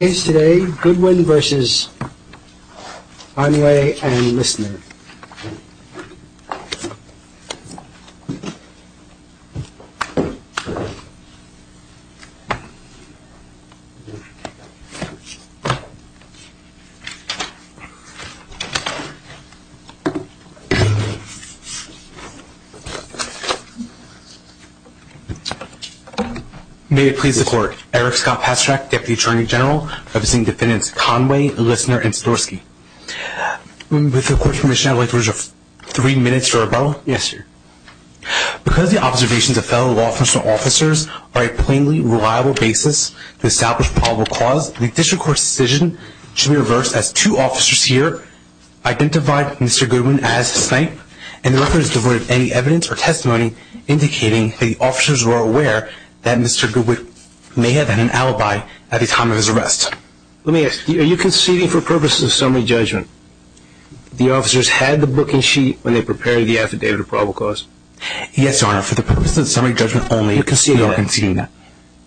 Today, Goodwin v. Conway and Listener. May it please the court, Eric Scott Pasterak, Deputy Attorney General, representing defendants Conway, Listener, and Sadorsky. With the court's permission, I'd like to reserve three minutes for rebuttal. Yes, sir. Because the observations of fellow law enforcement officers are a plainly reliable basis to establish probable cause, the district court's decision should be reversed as two officers here identified Mr. Goodwin as a snipe, and the record is devoid of any evidence or testimony indicating the officers were aware that Mr. Goodwin may have had an alibi at the time of his arrest. Are you conceding for purposes of summary judgment? The officers had the booking sheet when they prepared the affidavit of probable cause? Yes, Your Honor, for the purposes of summary judgment only. You're conceding that? We are conceding that.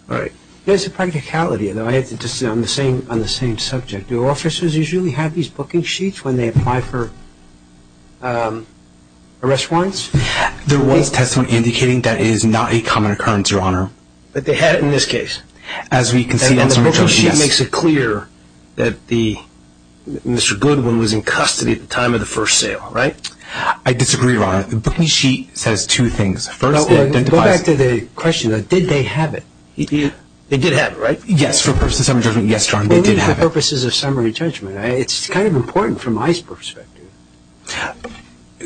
All right. There's a practicality, though I have to disagree on the same subject. Do officers usually have these booking sheets when they apply for arrest warrants? There was testimony indicating that is not a common occurrence, Your Honor. But they had it in this case? As we conceded in the summary judgment, yes. And the booking sheet makes it clear that Mr. Goodwin was in custody at the time of the first sale, right? I disagree, Your Honor. The booking sheet says two things. First, it identifies— Go back to the question. Did they have it? They did have it, right? Yes, for purposes of summary judgment. Yes, Your Honor, they did have it. Only for purposes of summary judgment. It's kind of important from my perspective.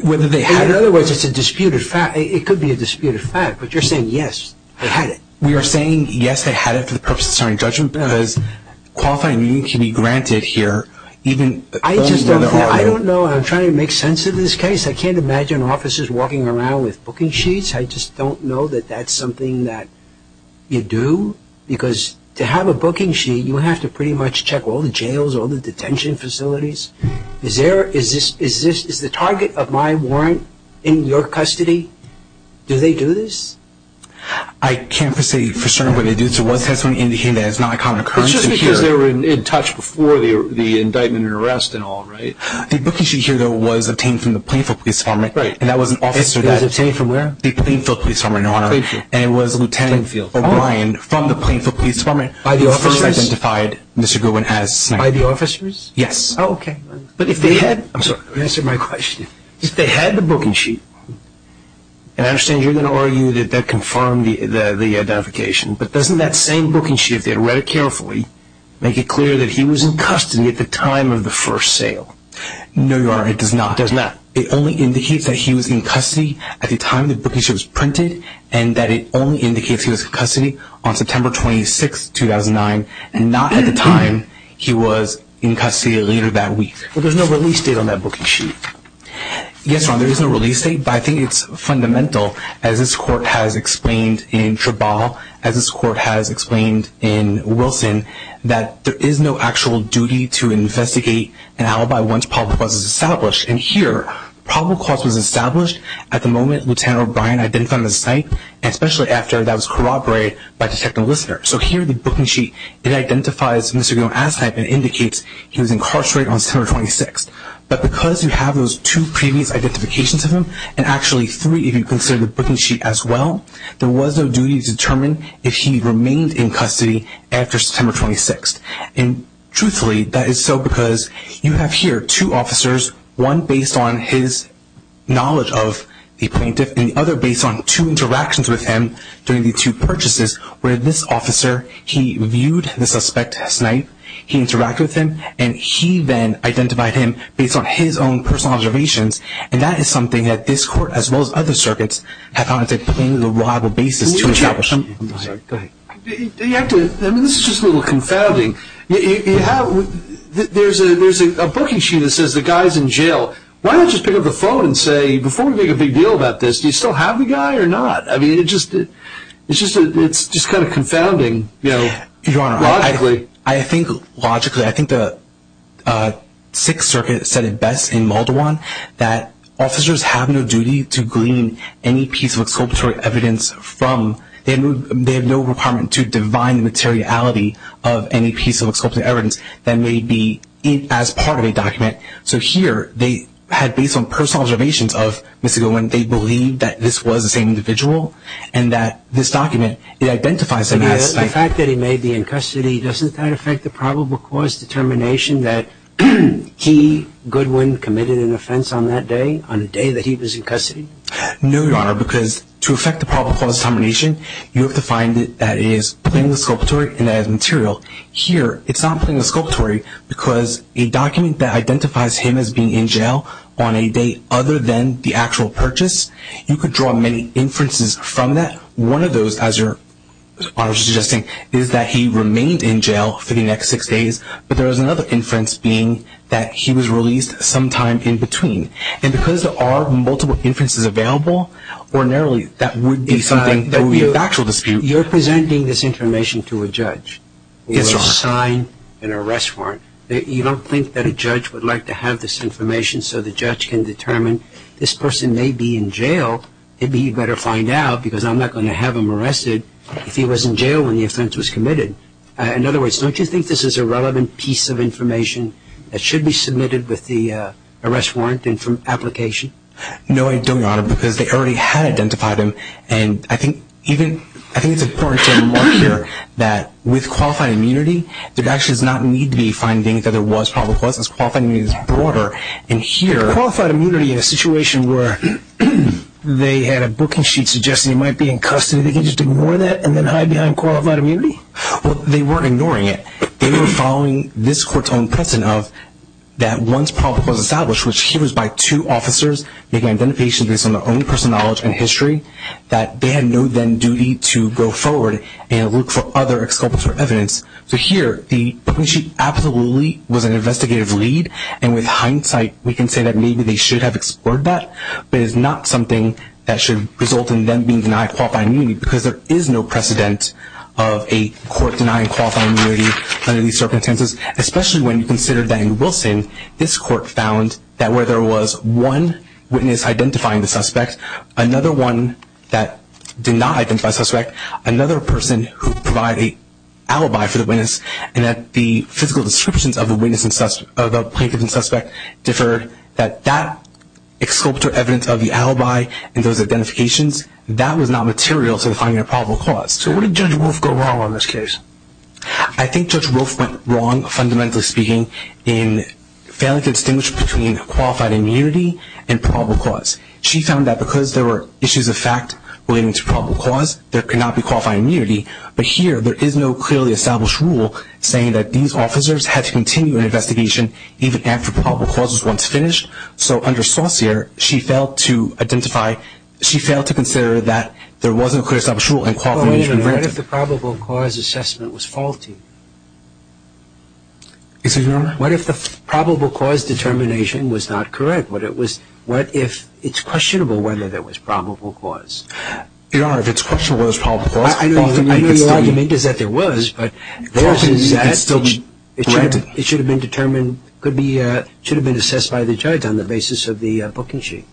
Whether they had it— In other words, it's a disputed fact. It could be a disputed fact, but you're saying, yes, they had it. We are saying, yes, they had it for the purpose of summary judgment because qualifying immunity can be granted here. I just don't know. I'm trying to make sense of this case. I can't imagine officers walking around with booking sheets. I just don't know that that's something that you do because to have a booking sheet, you have to pretty much check all the jails, all the detention facilities. Is the target of my warrant in your custody? Do they do this? I can't say for certain what they do. It was testimony in the hearing that is not a common occurrence in here. It's just because they were in touch before the indictment and arrest and all, right? The booking sheet here, though, was obtained from the Plainfield Police Department. Right. And that was an officer that— It was obtained from where? The Plainfield Police Department, Your Honor. Plainfield. And it was Lieutenant O'Brien from the Plainfield Police Department— By the officers? —who first identified Mr. Goodwin as— By the officers? Yes. Oh, okay. But if they had—I'm sorry, let me answer my question. If they had the booking sheet, and I understand you're going to argue that that confirmed the identification, but doesn't that same booking sheet, if they had read it carefully, make it clear that he was in custody at the time of the first sale? No, Your Honor, it does not. It does not. It only indicates that he was in custody at the time the booking sheet was printed and that it only indicates he was in custody on September 26, 2009, and not at the time he was in custody later that week. But there's no release date on that booking sheet. Yes, Your Honor, there is no release date, but I think it's fundamental, as this Court has explained in Trabal, as this Court has explained in Wilson, that there is no actual duty to investigate an alibi once probable cause is established. And here, probable cause was established at the moment Lieutenant O'Brien identified him as a snipe, and especially after that was corroborated by Detective Lister. So here, the booking sheet, it identifies Mr. Goodwin as a snipe and indicates he was incarcerated on September 26. But because you have those two previous identifications of him, and actually three if you consider the booking sheet as well, there was no duty to determine if he remained in custody after September 26. And truthfully, that is so because you have here two officers, one based on his knowledge of the plaintiff and the other based on two interactions with him during the two purchases, where this officer, he viewed the suspect as a snipe, he interacted with him, and he then identified him based on his own personal observations. And that is something that this Court, as well as other circuits, have found to be a reliable basis to establish. This is just a little confounding. There's a booking sheet that says the guy's in jail. Why not just pick up the phone and say, before we make a big deal about this, do you still have the guy or not? It's just kind of confounding, you know, logically. I think logically. I think the Sixth Circuit said it best in Muldawon that officers have no duty to glean any piece of exculpatory evidence from them. They have no requirement to divine the materiality of any piece of exculpatory evidence that may be as part of a document. So here they had based on personal observations of Mr. Gilwin, they believed that this was the same individual and that this document, it identifies him as a snipe. The fact that he may be in custody, doesn't that affect the probable cause determination that he, Goodwin, committed an offense on that day, on the day that he was in custody? No, Your Honor, because to affect the probable cause determination, you have to find that it is plainly exculpatory and that it is material. Here, it's not plainly exculpatory because a document that identifies him as being in jail on a date other than the actual purchase, you could draw many inferences from that. One of those, as Your Honor is suggesting, is that he remained in jail for the next six days, but there is another inference being that he was released sometime in between. And because there are multiple inferences available, ordinarily that would be something that would be a factual dispute. You're presenting this information to a judge with a sign and arrest warrant. You don't think that a judge would like to have this information so the judge can determine this person may be in jail? Maybe he'd better find out because I'm not going to have him arrested if he was in jail when the offense was committed. In other words, don't you think this is a relevant piece of information that should be submitted with the arrest warrant application? No, I don't, Your Honor, because they already had identified him. And I think it's important to note here that with qualified immunity, there actually does not need to be findings that there was probable cause. This qualified immunity is broader. Qualified immunity in a situation where they had a booking sheet suggesting he might be in custody, they can just ignore that and then hide behind qualified immunity? Well, they weren't ignoring it. They were following this court's own precedent of that once probable cause was established, which here was by two officers making an identification based on their own personal knowledge and history, that they had no then duty to go forward and look for other exculpatory evidence. So here, the booking sheet absolutely was an investigative lead, and with hindsight, we can say that maybe they should have explored that, but it's not something that should result in them being denied qualified immunity because there is no precedent of a court denying qualified immunity under these circumstances, especially when you consider that in Wilson, this court found that where there was one witness identifying the suspect, another one that did not identify the suspect, another person who provided an alibi for the witness, and that the physical descriptions of a plaintiff and suspect differed, that that exculpatory evidence of the alibi and those identifications, that was not material to finding a probable cause. So what did Judge Wolf go wrong on this case? I think Judge Wolf went wrong, fundamentally speaking, in failing to distinguish between qualified immunity and probable cause. She found that because there were issues of fact relating to probable cause, there could not be qualified immunity, but here there is no clearly established rule saying that these officers had to continue an investigation even after probable cause was once finished. So under Saucere, she failed to identify, she failed to consider that there wasn't a clear established rule in qualified immunity. But wait a minute. What if the probable cause assessment was faulty? Excuse me, Your Honor? What if the probable cause determination was not correct? What if it's questionable whether there was probable cause? Your Honor, if it's questionable whether there was probable cause, I know your argument is that there was, but there is an assessment. It should have been determined, could be, should have been assessed by the judge on the basis of the booking sheet.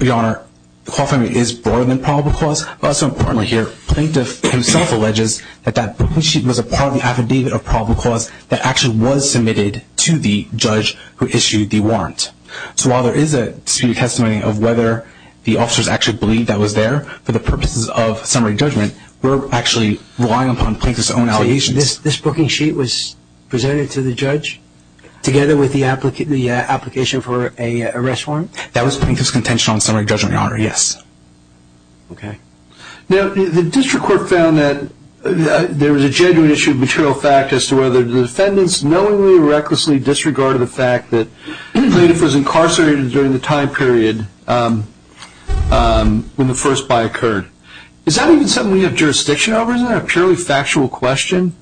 Your Honor, qualified immunity is broader than probable cause, but also importantly here, the plaintiff himself alleges that that booking sheet was a part of the affidavit of probable cause that actually was submitted to the judge who issued the warrant. So while there is a testimony of whether the officers actually believed that was there for the purposes of summary judgment, we're actually relying upon plaintiff's own allegations. So this booking sheet was presented to the judge together with the application for an arrest warrant? That was plaintiff's contention on summary judgment, Your Honor, yes. Okay. Now, the district court found that there was a genuine issue of material fact as to whether the defendants knowingly or recklessly disregarded the fact that Is that even something we have jurisdiction over? Isn't that a purely factual question?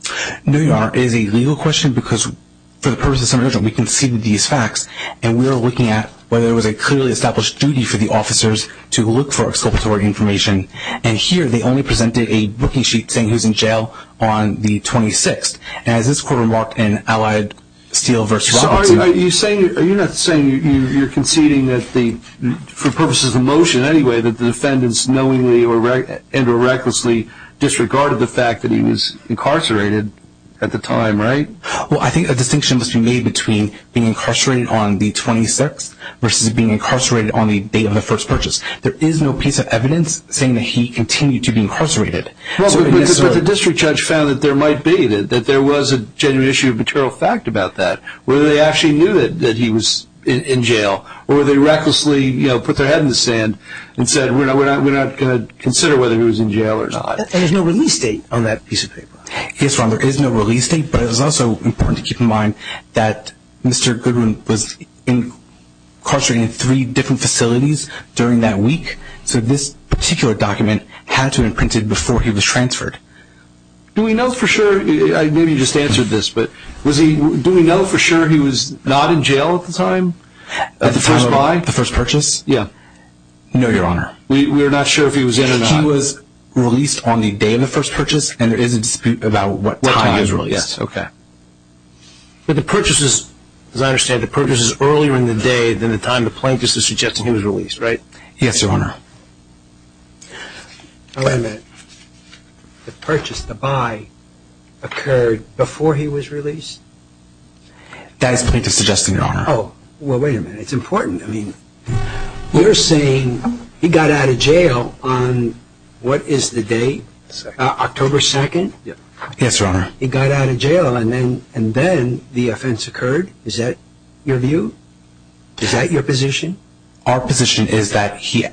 No, Your Honor. It is a legal question because for the purposes of summary judgment, we conceded these facts, and we are looking at whether there was a clearly established duty for the officers to look for exculpatory information. And here, they only presented a booking sheet saying who's in jail on the 26th. And as this court remarked in Allied Steel v. Robertson So are you saying, are you not saying you're conceding that the, for purposes of the motion anyway, that the defendants knowingly and or recklessly disregarded the fact that he was incarcerated at the time, right? Well, I think a distinction must be made between being incarcerated on the 26th versus being incarcerated on the date of the first purchase. There is no piece of evidence saying that he continued to be incarcerated. Well, but the district judge found that there might be, that there was a genuine issue of material fact about that, whether they actually knew that he was in jail or they recklessly put their head in the sand and said, we're not going to consider whether he was in jail or not. There's no release date on that piece of paper. Yes, Ron, there is no release date, but it was also important to keep in mind that Mr. Goodwin was incarcerated in three different facilities during that week, so this particular document had to have been printed before he was transferred. Do we know for sure, maybe you just answered this, but do we know for sure he was not in jail at the time? At the time of the first purchase? Yeah. No, Your Honor. We're not sure if he was in or not. He was released on the day of the first purchase, and there is a dispute about what time he was released. What time, yes, okay. But the purchases, as I understand, the purchases earlier in the day than the time the plaintiff is suggesting he was released, right? Yes, Your Honor. Wait a minute. The purchase, the buy, occurred before he was released? That is the plaintiff's suggestion, Your Honor. Oh, well, wait a minute. It's important. I mean, you're saying he got out of jail on what is the date? October 2nd? Yes, Your Honor. He got out of jail, and then the offense occurred? Is that your view? Is that your position? Our position is that he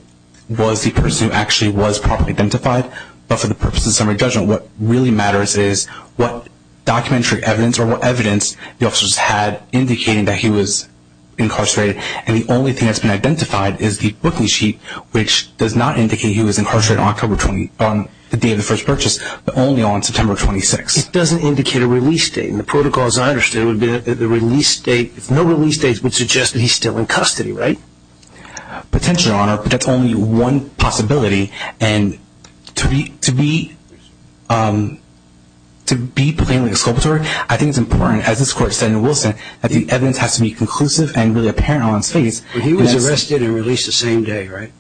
was the person who actually was properly identified, but for the purposes of summary judgment, what really matters is what documentary evidence or what evidence the officers had indicating that he was incarcerated. And the only thing that's been identified is the booking sheet, which does not indicate he was incarcerated on the day of the first purchase, but only on September 26th. It doesn't indicate a release date. And the protocol, as I understand it, would be that the release date, if no release date, would suggest that he's still in custody, right? Potentially, Your Honor, but that's only one possibility. And to be plainly exculpatory, I think it's important, as this Court said in Wilson, that the evidence has to be conclusive and really apparent on his face. But he was arrested and released the same day, right?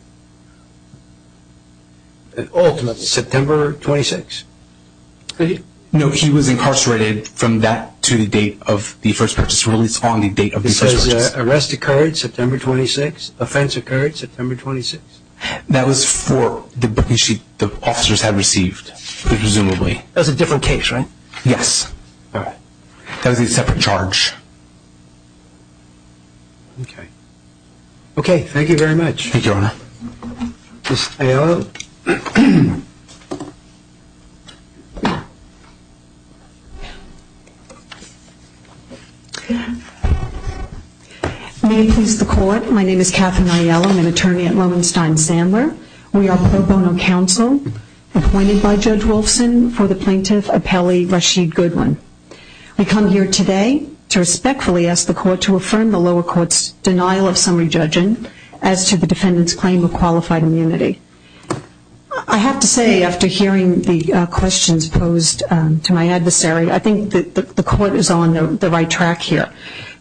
Ultimately. September 26th. No, he was incarcerated from that to the date of the first purchase, released on the date of the first purchase. It says arrest occurred September 26th, offense occurred September 26th. That was for the booking sheet the officers had received, presumably. That was a different case, right? Yes. All right. That was a separate charge. Okay, thank you very much. Thank you, Your Honor. Ms. Aiello? May it please the Court, my name is Katherine Aiello, I'm an attorney at Lohenstein Sandler. We are pro bono counsel appointed by Judge Wilson for the plaintiff, Apelli Rashid Goodwin. We come here today to respectfully ask the Court to affirm the lower court's denial of summary judging as to the defendant's claim of qualified immunity. I have to say, after hearing the questions posed to my adversary, I think the Court is on the right track here.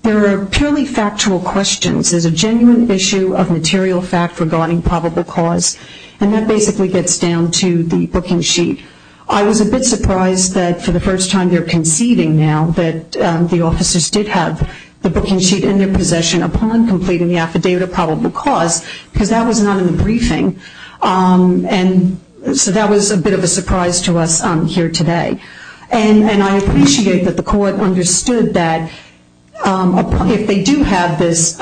There are purely factual questions. There's a genuine issue of material fact regarding probable cause, and that basically gets down to the booking sheet. I was a bit surprised that for the first time they're conceding now that the officers did have the booking sheet in their possession upon completing the affidavit of probable cause, because that was not in the briefing. And so that was a bit of a surprise to us here today. And I appreciate that the Court understood that if they do have this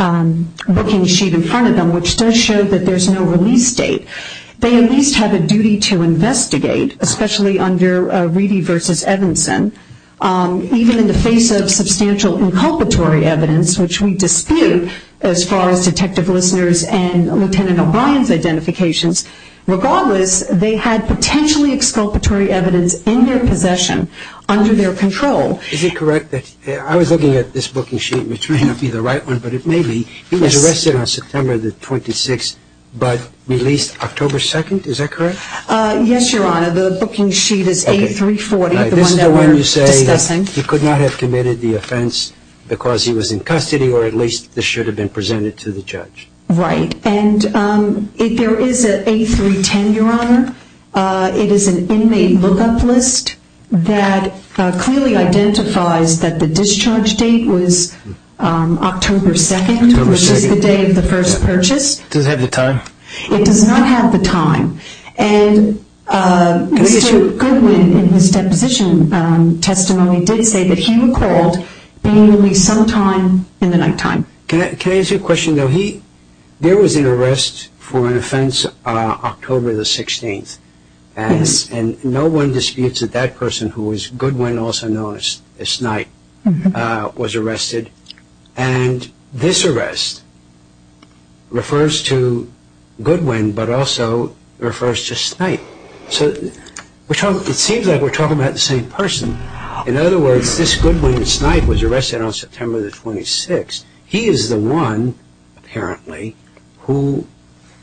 booking sheet in front of them, which does show that there's no release date, they at least have a duty to investigate, especially under Reedy v. Evanson, even in the face of substantial inculpatory evidence, which we dispute as far as detective listeners and Lieutenant O'Brien's identifications. Regardless, they had potentially exculpatory evidence in their possession under their control. Is it correct that I was looking at this booking sheet, which may not be the right one, but it may be. He was arrested on September the 26th, but released October 2nd. Is that correct? Yes, Your Honor. The booking sheet is A340, the one that we're discussing. This is the one you say he could not have committed the offense because he was in custody, or at least this should have been presented to the judge. And there is an A310, Your Honor. It is an inmate lookup list that clearly identifies that the discharge date was October 2nd, which is the day of the first purchase. Does it have the time? It does not have the time. And Mr. Goodwin, in his deposition testimony, did say that he recalled being released sometime in the nighttime. Can I ask you a question, though? There was an arrest for an offense October the 16th, and no one disputes that that person, who was Goodwin, also known as Snipe, was arrested. And this arrest refers to Goodwin, but also refers to Snipe. So it seems like we're talking about the same person. In other words, this Goodwin Snipe was arrested on September the 26th. He is the one, apparently, who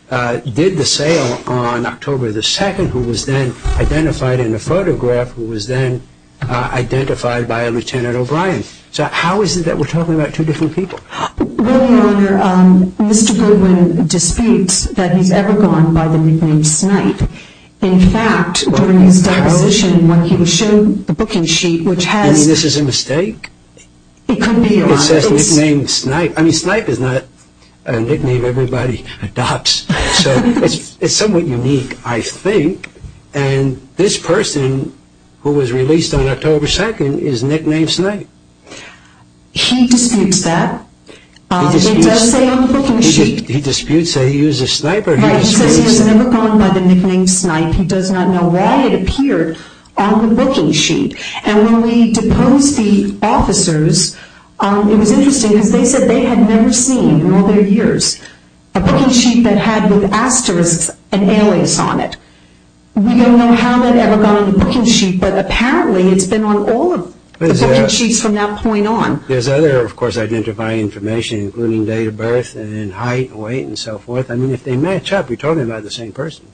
did the sale on October the 2nd, who was then identified in the photograph, who was then identified by Lieutenant O'Brien. So how is it that we're talking about two different people? Well, Your Honor, Mr. Goodwin disputes that he's ever gone by the nickname Snipe. In fact, during his deposition, when he was shown the booking sheet, which has- You mean this is a mistake? It could be, Your Honor. It says nickname Snipe. I mean, Snipe is not a nickname everybody adopts. So it's somewhat unique, I think. And this person, who was released on October 2nd, is nicknamed Snipe. He disputes that. He disputes- It does say on the booking sheet- He disputes that he was a sniper, he disputes- But it says he was never gone by the nickname Snipe. He does not know why it appeared on the booking sheet. And when we deposed the officers, it was interesting, because they said they had never seen in all their years a booking sheet that had with asterisks and alias on it. We don't know how that ever got on the booking sheet, but apparently it's been on all of the booking sheets from that point on. There's other, of course, identifying information, including date of birth and height and weight and so forth. I mean, if they match up, you're talking about the same person.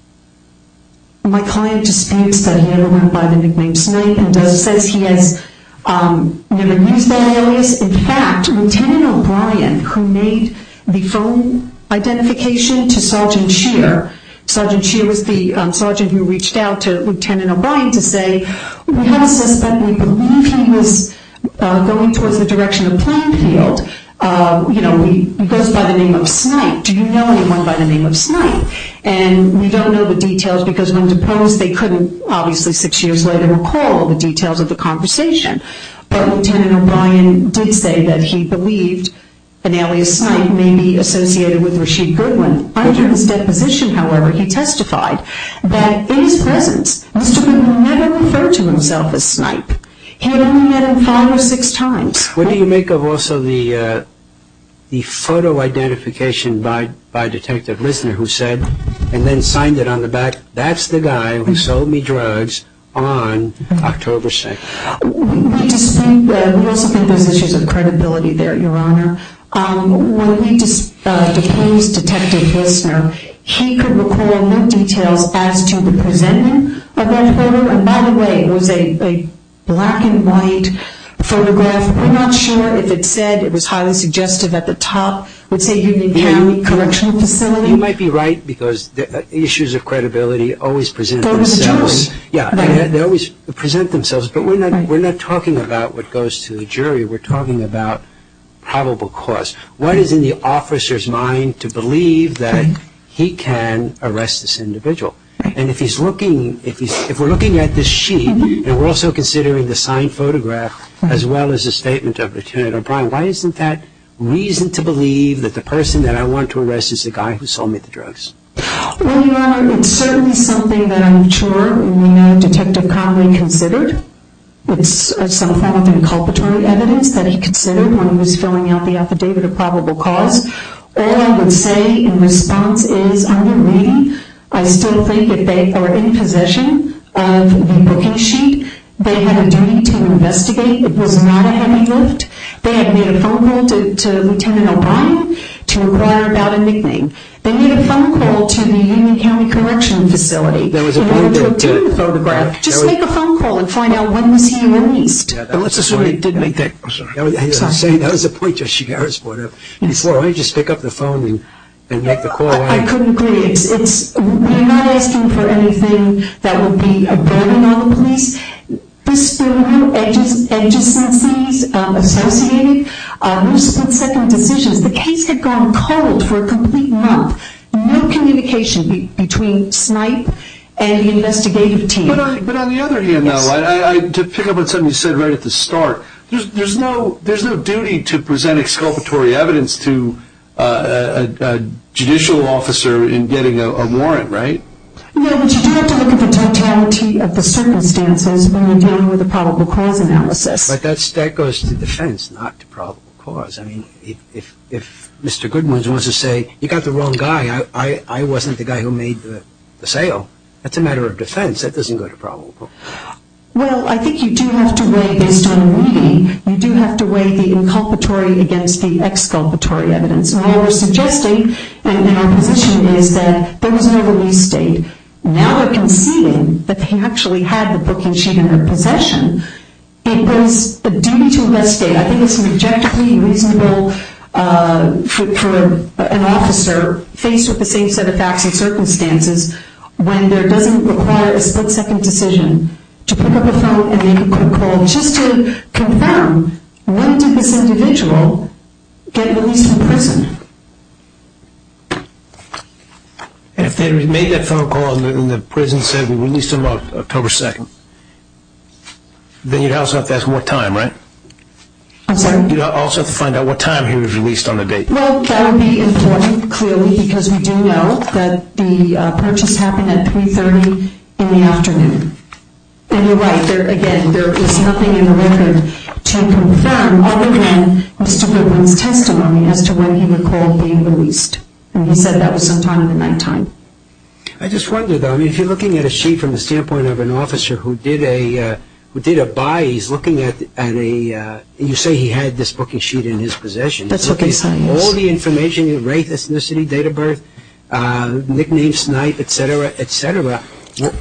My client disputes that he's ever gone by the nickname Snipe and says he has never used that alias. In fact, Lt. O'Brien, who made the phone identification to Sgt. Scheer, Sgt. Scheer was the sergeant who reached out to Lt. O'Brien to say, we have a suspect. We believe he was going towards the direction of Plainfield. He goes by the name of Snipe. Do you know anyone by the name of Snipe? And we don't know the details, because when deposed, they couldn't, obviously, six years later, recall the details of the conversation. But Lt. O'Brien did say that he believed an alias Snipe may be associated with Rasheed Goodwin. Under his deposition, however, he testified that in his presence, Mr. Goodwin never referred to himself as Snipe. He had only met him five or six times. What do you make of also the photo identification by Detective Lissner who said, and then signed it on the back, that's the guy who sold me drugs on October 2nd? We also think there's issues of credibility there, Your Honor. When we deposed Detective Lissner, he could recall no details as to the presenting of that photo. And by the way, it was a black and white photograph. We're not sure if it said it was highly suggestive at the top. It would say Union County Correctional Facility. You might be right, because issues of credibility always present themselves. Yeah, they always present themselves. But we're not talking about what goes to the jury. We're talking about probable cause. What is in the officer's mind to believe that he can arrest this individual? And if we're looking at this sheet, and we're also considering the signed photograph, as well as the statement of Lt. O'Brien, why isn't that reason to believe that the person that I want to arrest is the guy who sold me the drugs? Well, Your Honor, it's certainly something that I'm sure we know Detective Conway considered. It's some form of inculpatory evidence that he considered when he was filling out the affidavit of probable cause. All I would say in response is, under reading, I still think that they are in possession of the booking sheet. They had a duty to investigate. It was not a heavy lift. They had made a phone call to Lt. O'Brien to inquire about a nickname. They made a phone call to the Union County Correctional Facility in order to photograph. Just make a phone call and find out when was he released. Let's assume they did make that. I'm sorry. That was a point you should have asked for. Before, why don't you just pick up the phone and make the call? I couldn't agree. You're not asking for anything that would be a burden on the police. There were no adjacencies associated. No split-second decisions. The case had gone cold for a complete month. No communication between SNIPE and the investigative team. But on the other hand, to pick up on something you said right at the start, there's no duty to present exculpatory evidence to a judicial officer in getting a warrant, right? No, but you do have to look at the totality of the circumstances when you're dealing with a probable cause analysis. But that goes to defense, not to probable cause. I mean, if Mr. Goodwin wants to say, you got the wrong guy, I wasn't the guy who made the sale, that's a matter of defense. That doesn't go to probable. Well, I think you do have to weigh, based on reading, you do have to weigh the inculpatory against the exculpatory evidence. And what we're suggesting in our position is that there was no release date. Now we're conceding that they actually had the booking sheet in their possession. It was a duty to investigate. I think it's rejectably reasonable for an officer, faced with the same set of facts and circumstances, when there doesn't require a split-second decision to pick up a phone and make a quick call just to confirm, when did this individual get released from prison? If they had made that phone call and the prison said, then you'd also have to ask what time, right? I'm sorry? You'd also have to find out what time he was released on the date. Well, that would be important, clearly, because we do know that the purchase happened at 3.30 in the afternoon. And you're right. Again, there is nothing in the record to confirm other than Mr. Goodwin's testimony as to when he recalled being released. And he said that was sometime in the nighttime. I just wonder, though, if you're looking at a sheet from the standpoint of an officer who did a buy, he's looking at a – you say he had this booking sheet in his possession. That's what they said, yes. All the information, the rate, ethnicity, date of birth, nickname, snipe, et cetera, et cetera.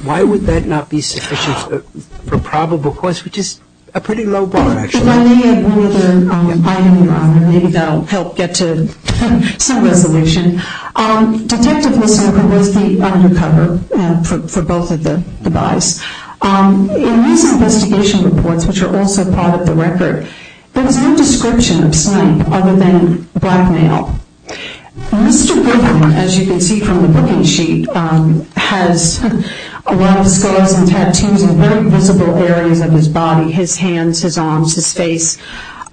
Why would that not be sufficient for probable cause, which is a pretty low bar, actually. Let me add one other item, Your Honor. Maybe that will help get to some resolution. Detective Lissner was the undercover for both of the buys. In these investigation reports, which are also part of the record, there was no description of snipe other than blackmail. Mr. Goodwin, as you can see from the booking sheet, has a lot of scars and tattoos in very visible areas of his body, his hands, his arms, his face.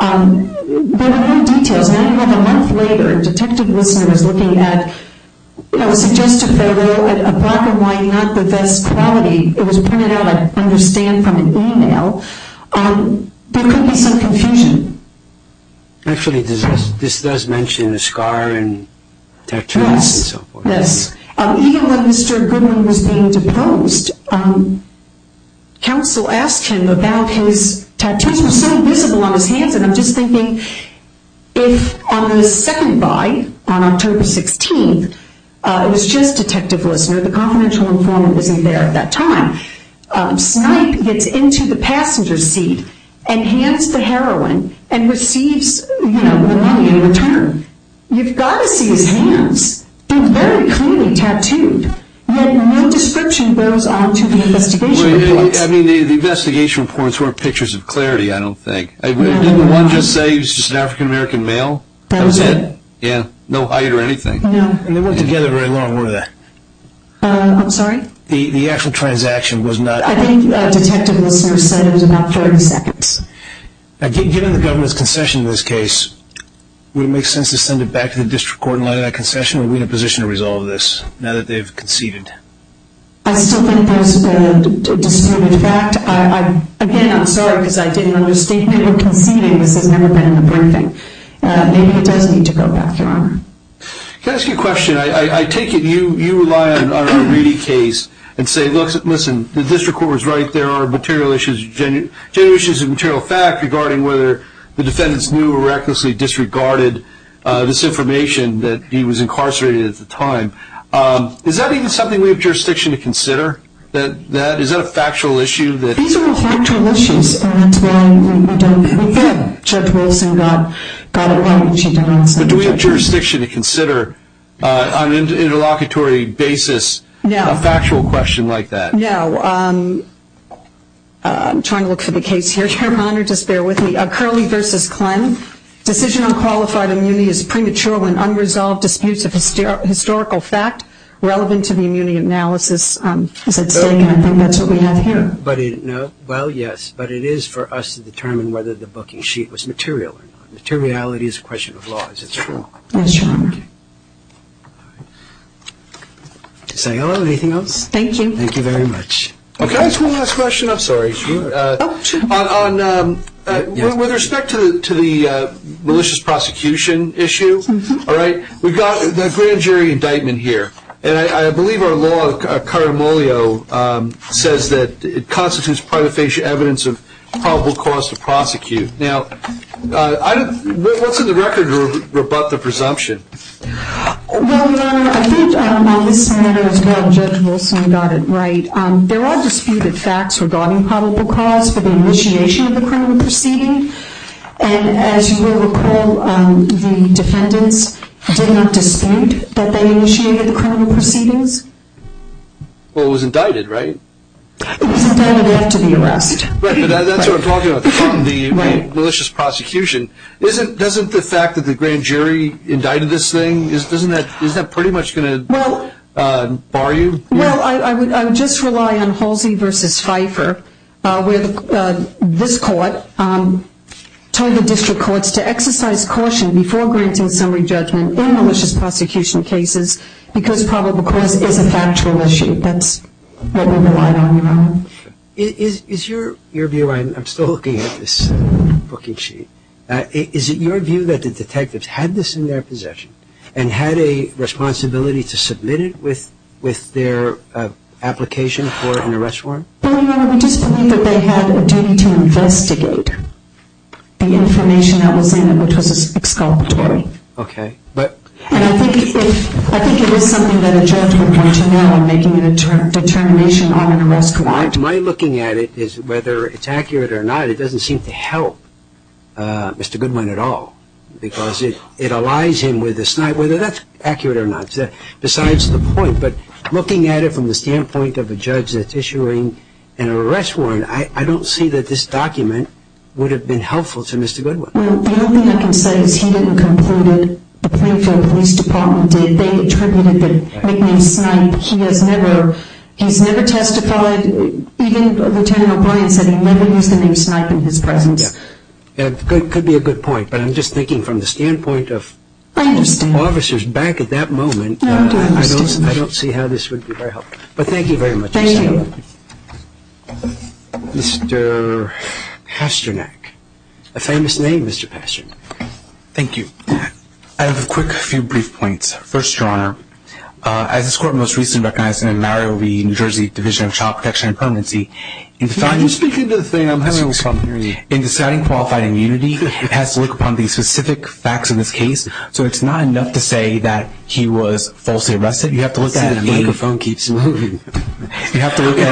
There were no details. A month later, Detective Lissner was looking at – it was suggested that they were at a block of wine, not the best quality. It was printed out, I understand, from an email. There could be some confusion. Actually, this does mention a scar and tattoos and so forth. Yes. Even when Mr. Goodwin was being deposed, counsel asked him about his tattoos, which were so visible on his hands. I'm just thinking if on the second buy, on October 16th, it was just Detective Lissner. The confidential informant wasn't there at that time. Snipe gets into the passenger seat and hands the heroin and receives the money in return. You've got to see his hands. They're very clearly tattooed, yet no description goes on to the investigation reports. The investigation reports weren't pictures of clarity, I don't think. Didn't one just say he was just an African-American male? That was it. No height or anything. They weren't together very long, were they? I'm sorry? The actual transaction was not – I think Detective Lissner said it was about 30 seconds. Given the government's concession in this case, would it make sense to send it back to the district court in light of that concession, or are we in a position to resolve this now that they've conceded? I still think that was a disproven fact. Again, I'm sorry because I didn't understand. They were conceding. This has never been in the briefing. Maybe it does need to go back, Your Honor. Can I ask you a question? I take it you rely on a ready case and say, listen, the district court was right, there are general issues of material fact regarding whether the defendants knew or recklessly disregarded this information that he was incarcerated at the time. Is that even something we have jurisdiction to consider? Is that a factual issue? These are all factual issues. Again, Judge Wilson got it right. But do we have jurisdiction to consider on an interlocutory basis a factual question like that? No. I'm trying to look for the case here, Your Honor. Just bear with me. Curley v. Kline, decision on qualified immunity is premature when unresolved disputes of historical fact relevant to the immunity analysis is at stake, and I think that's what we have here. Well, yes. But it is for us to determine whether the booking sheet was material or not. Materiality is a question of law, is it not? Yes, Your Honor. Is that all or anything else? Thank you. Thank you very much. Can I ask one last question? I'm sorry. With respect to the malicious prosecution issue, we've got the grand jury indictment here, and I believe our law, caramolio, says that it constitutes protofacial evidence of probable cause to prosecute. Now, what's in the record to rebut the presumption? Well, Your Honor, I think on this matter as well, Judge Wilson got it right. There are disputed facts regarding probable cause for the initiation of the criminal proceeding, and as you will recall, the defendants did not dispute that they initiated the criminal proceedings. Well, it was indicted, right? It was indicted after the arrest. Right, but that's what I'm talking about from the malicious prosecution. Doesn't the fact that the grand jury indicted this thing, isn't that pretty much going to bar you? Well, I would just rely on Halsey v. Pfeiffer where this court told the district courts to exercise caution before granting summary judgment in malicious prosecution cases because probable cause is a factual issue. That's what we relied on, Your Honor. Is your view, and I'm still looking at this booking sheet, is it your view that the detectives had this in their possession and had a responsibility to submit it with their application for an arrest warrant? Well, Your Honor, we just believe that they had a duty to investigate the information that was in it, which was exculpatory. Okay. And I think it was something that a judge would want to know in making a determination on an arrest warrant. My looking at it is whether it's accurate or not, it doesn't seem to help Mr. Goodwin at all because it allies him with the Snipe, whether that's accurate or not, besides the point. But looking at it from the standpoint of a judge that's issuing an arrest warrant, I don't see that this document would have been helpful to Mr. Goodwin. The only thing I can say is he didn't conclude it, the Plainfield Police Department did. They attributed the nickname Snipe. He has never testified. Even Lieutenant O'Brien said he never used the name Snipe in his presence. It could be a good point, but I'm just thinking from the standpoint of officers back at that moment, I don't see how this would be very helpful. But thank you very much. Thank you. Mr. Pasternak. A famous name, Mr. Pasternak. Thank you. I have a quick few brief points. First, Your Honor, as this Court most recently recognized him in Mario Lee, New Jersey, Division of Child Protection and Permanency, in deciding qualified immunity, it has to look upon the specific facts in this case. So it's not enough to say that he was falsely arrested. You have to look at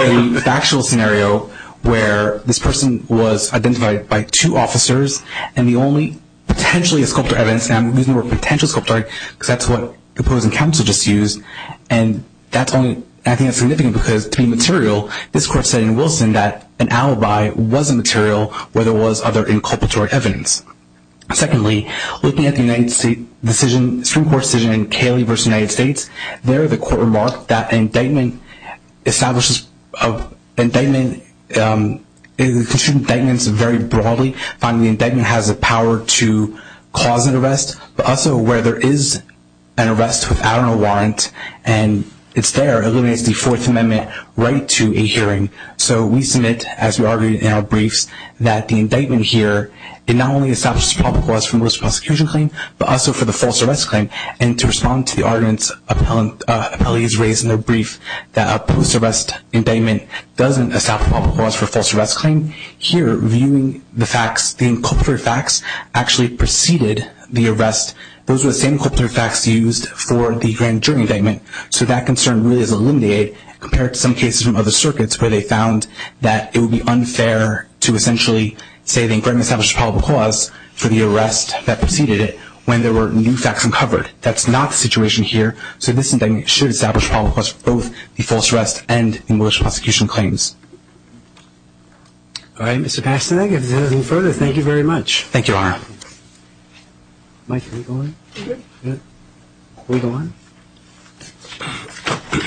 a factual scenario where this person was identified by two officers and the only potentially a sculptor evidence, and I'm using the word potential sculptor because that's what the opposing counsel just used, and I think that's significant because to be material, this Court said in Wilson that an alibi was a material where there was other inculpatory evidence. Secondly, looking at the United States Supreme Court decision in Cayley v. United States, there the Court remarked that an indictment establishes an indictment, it constitutes indictments very broadly. Finally, the indictment has the power to cause an arrest, but also where there is an arrest without a warrant and it's there, it eliminates the Fourth Amendment right to a hearing. So we submit, as we argued in our briefs, that the indictment here, it not only establishes a probable cause for most prosecution claims, but also for the false arrest claim. And to respond to the arguments appellees raised in their brief that a post-arrest indictment doesn't establish a probable cause for a false arrest claim, here viewing the facts, the inculpatory facts actually preceded the arrest. Those were the same inculpatory facts used for the grand jury indictment. So that concern really is eliminated compared to some cases from other circuits where they found that it would be unfair to essentially say the indictment established a probable cause for the arrest that preceded it when there were new facts uncovered. That's not the situation here. So this indictment should establish a probable cause for both the false arrest and the militia prosecution claims. All right, Mr. Pastanak, if there's nothing further, thank you very much. Thank you, Your Honor. Mike, hold on. Hold on.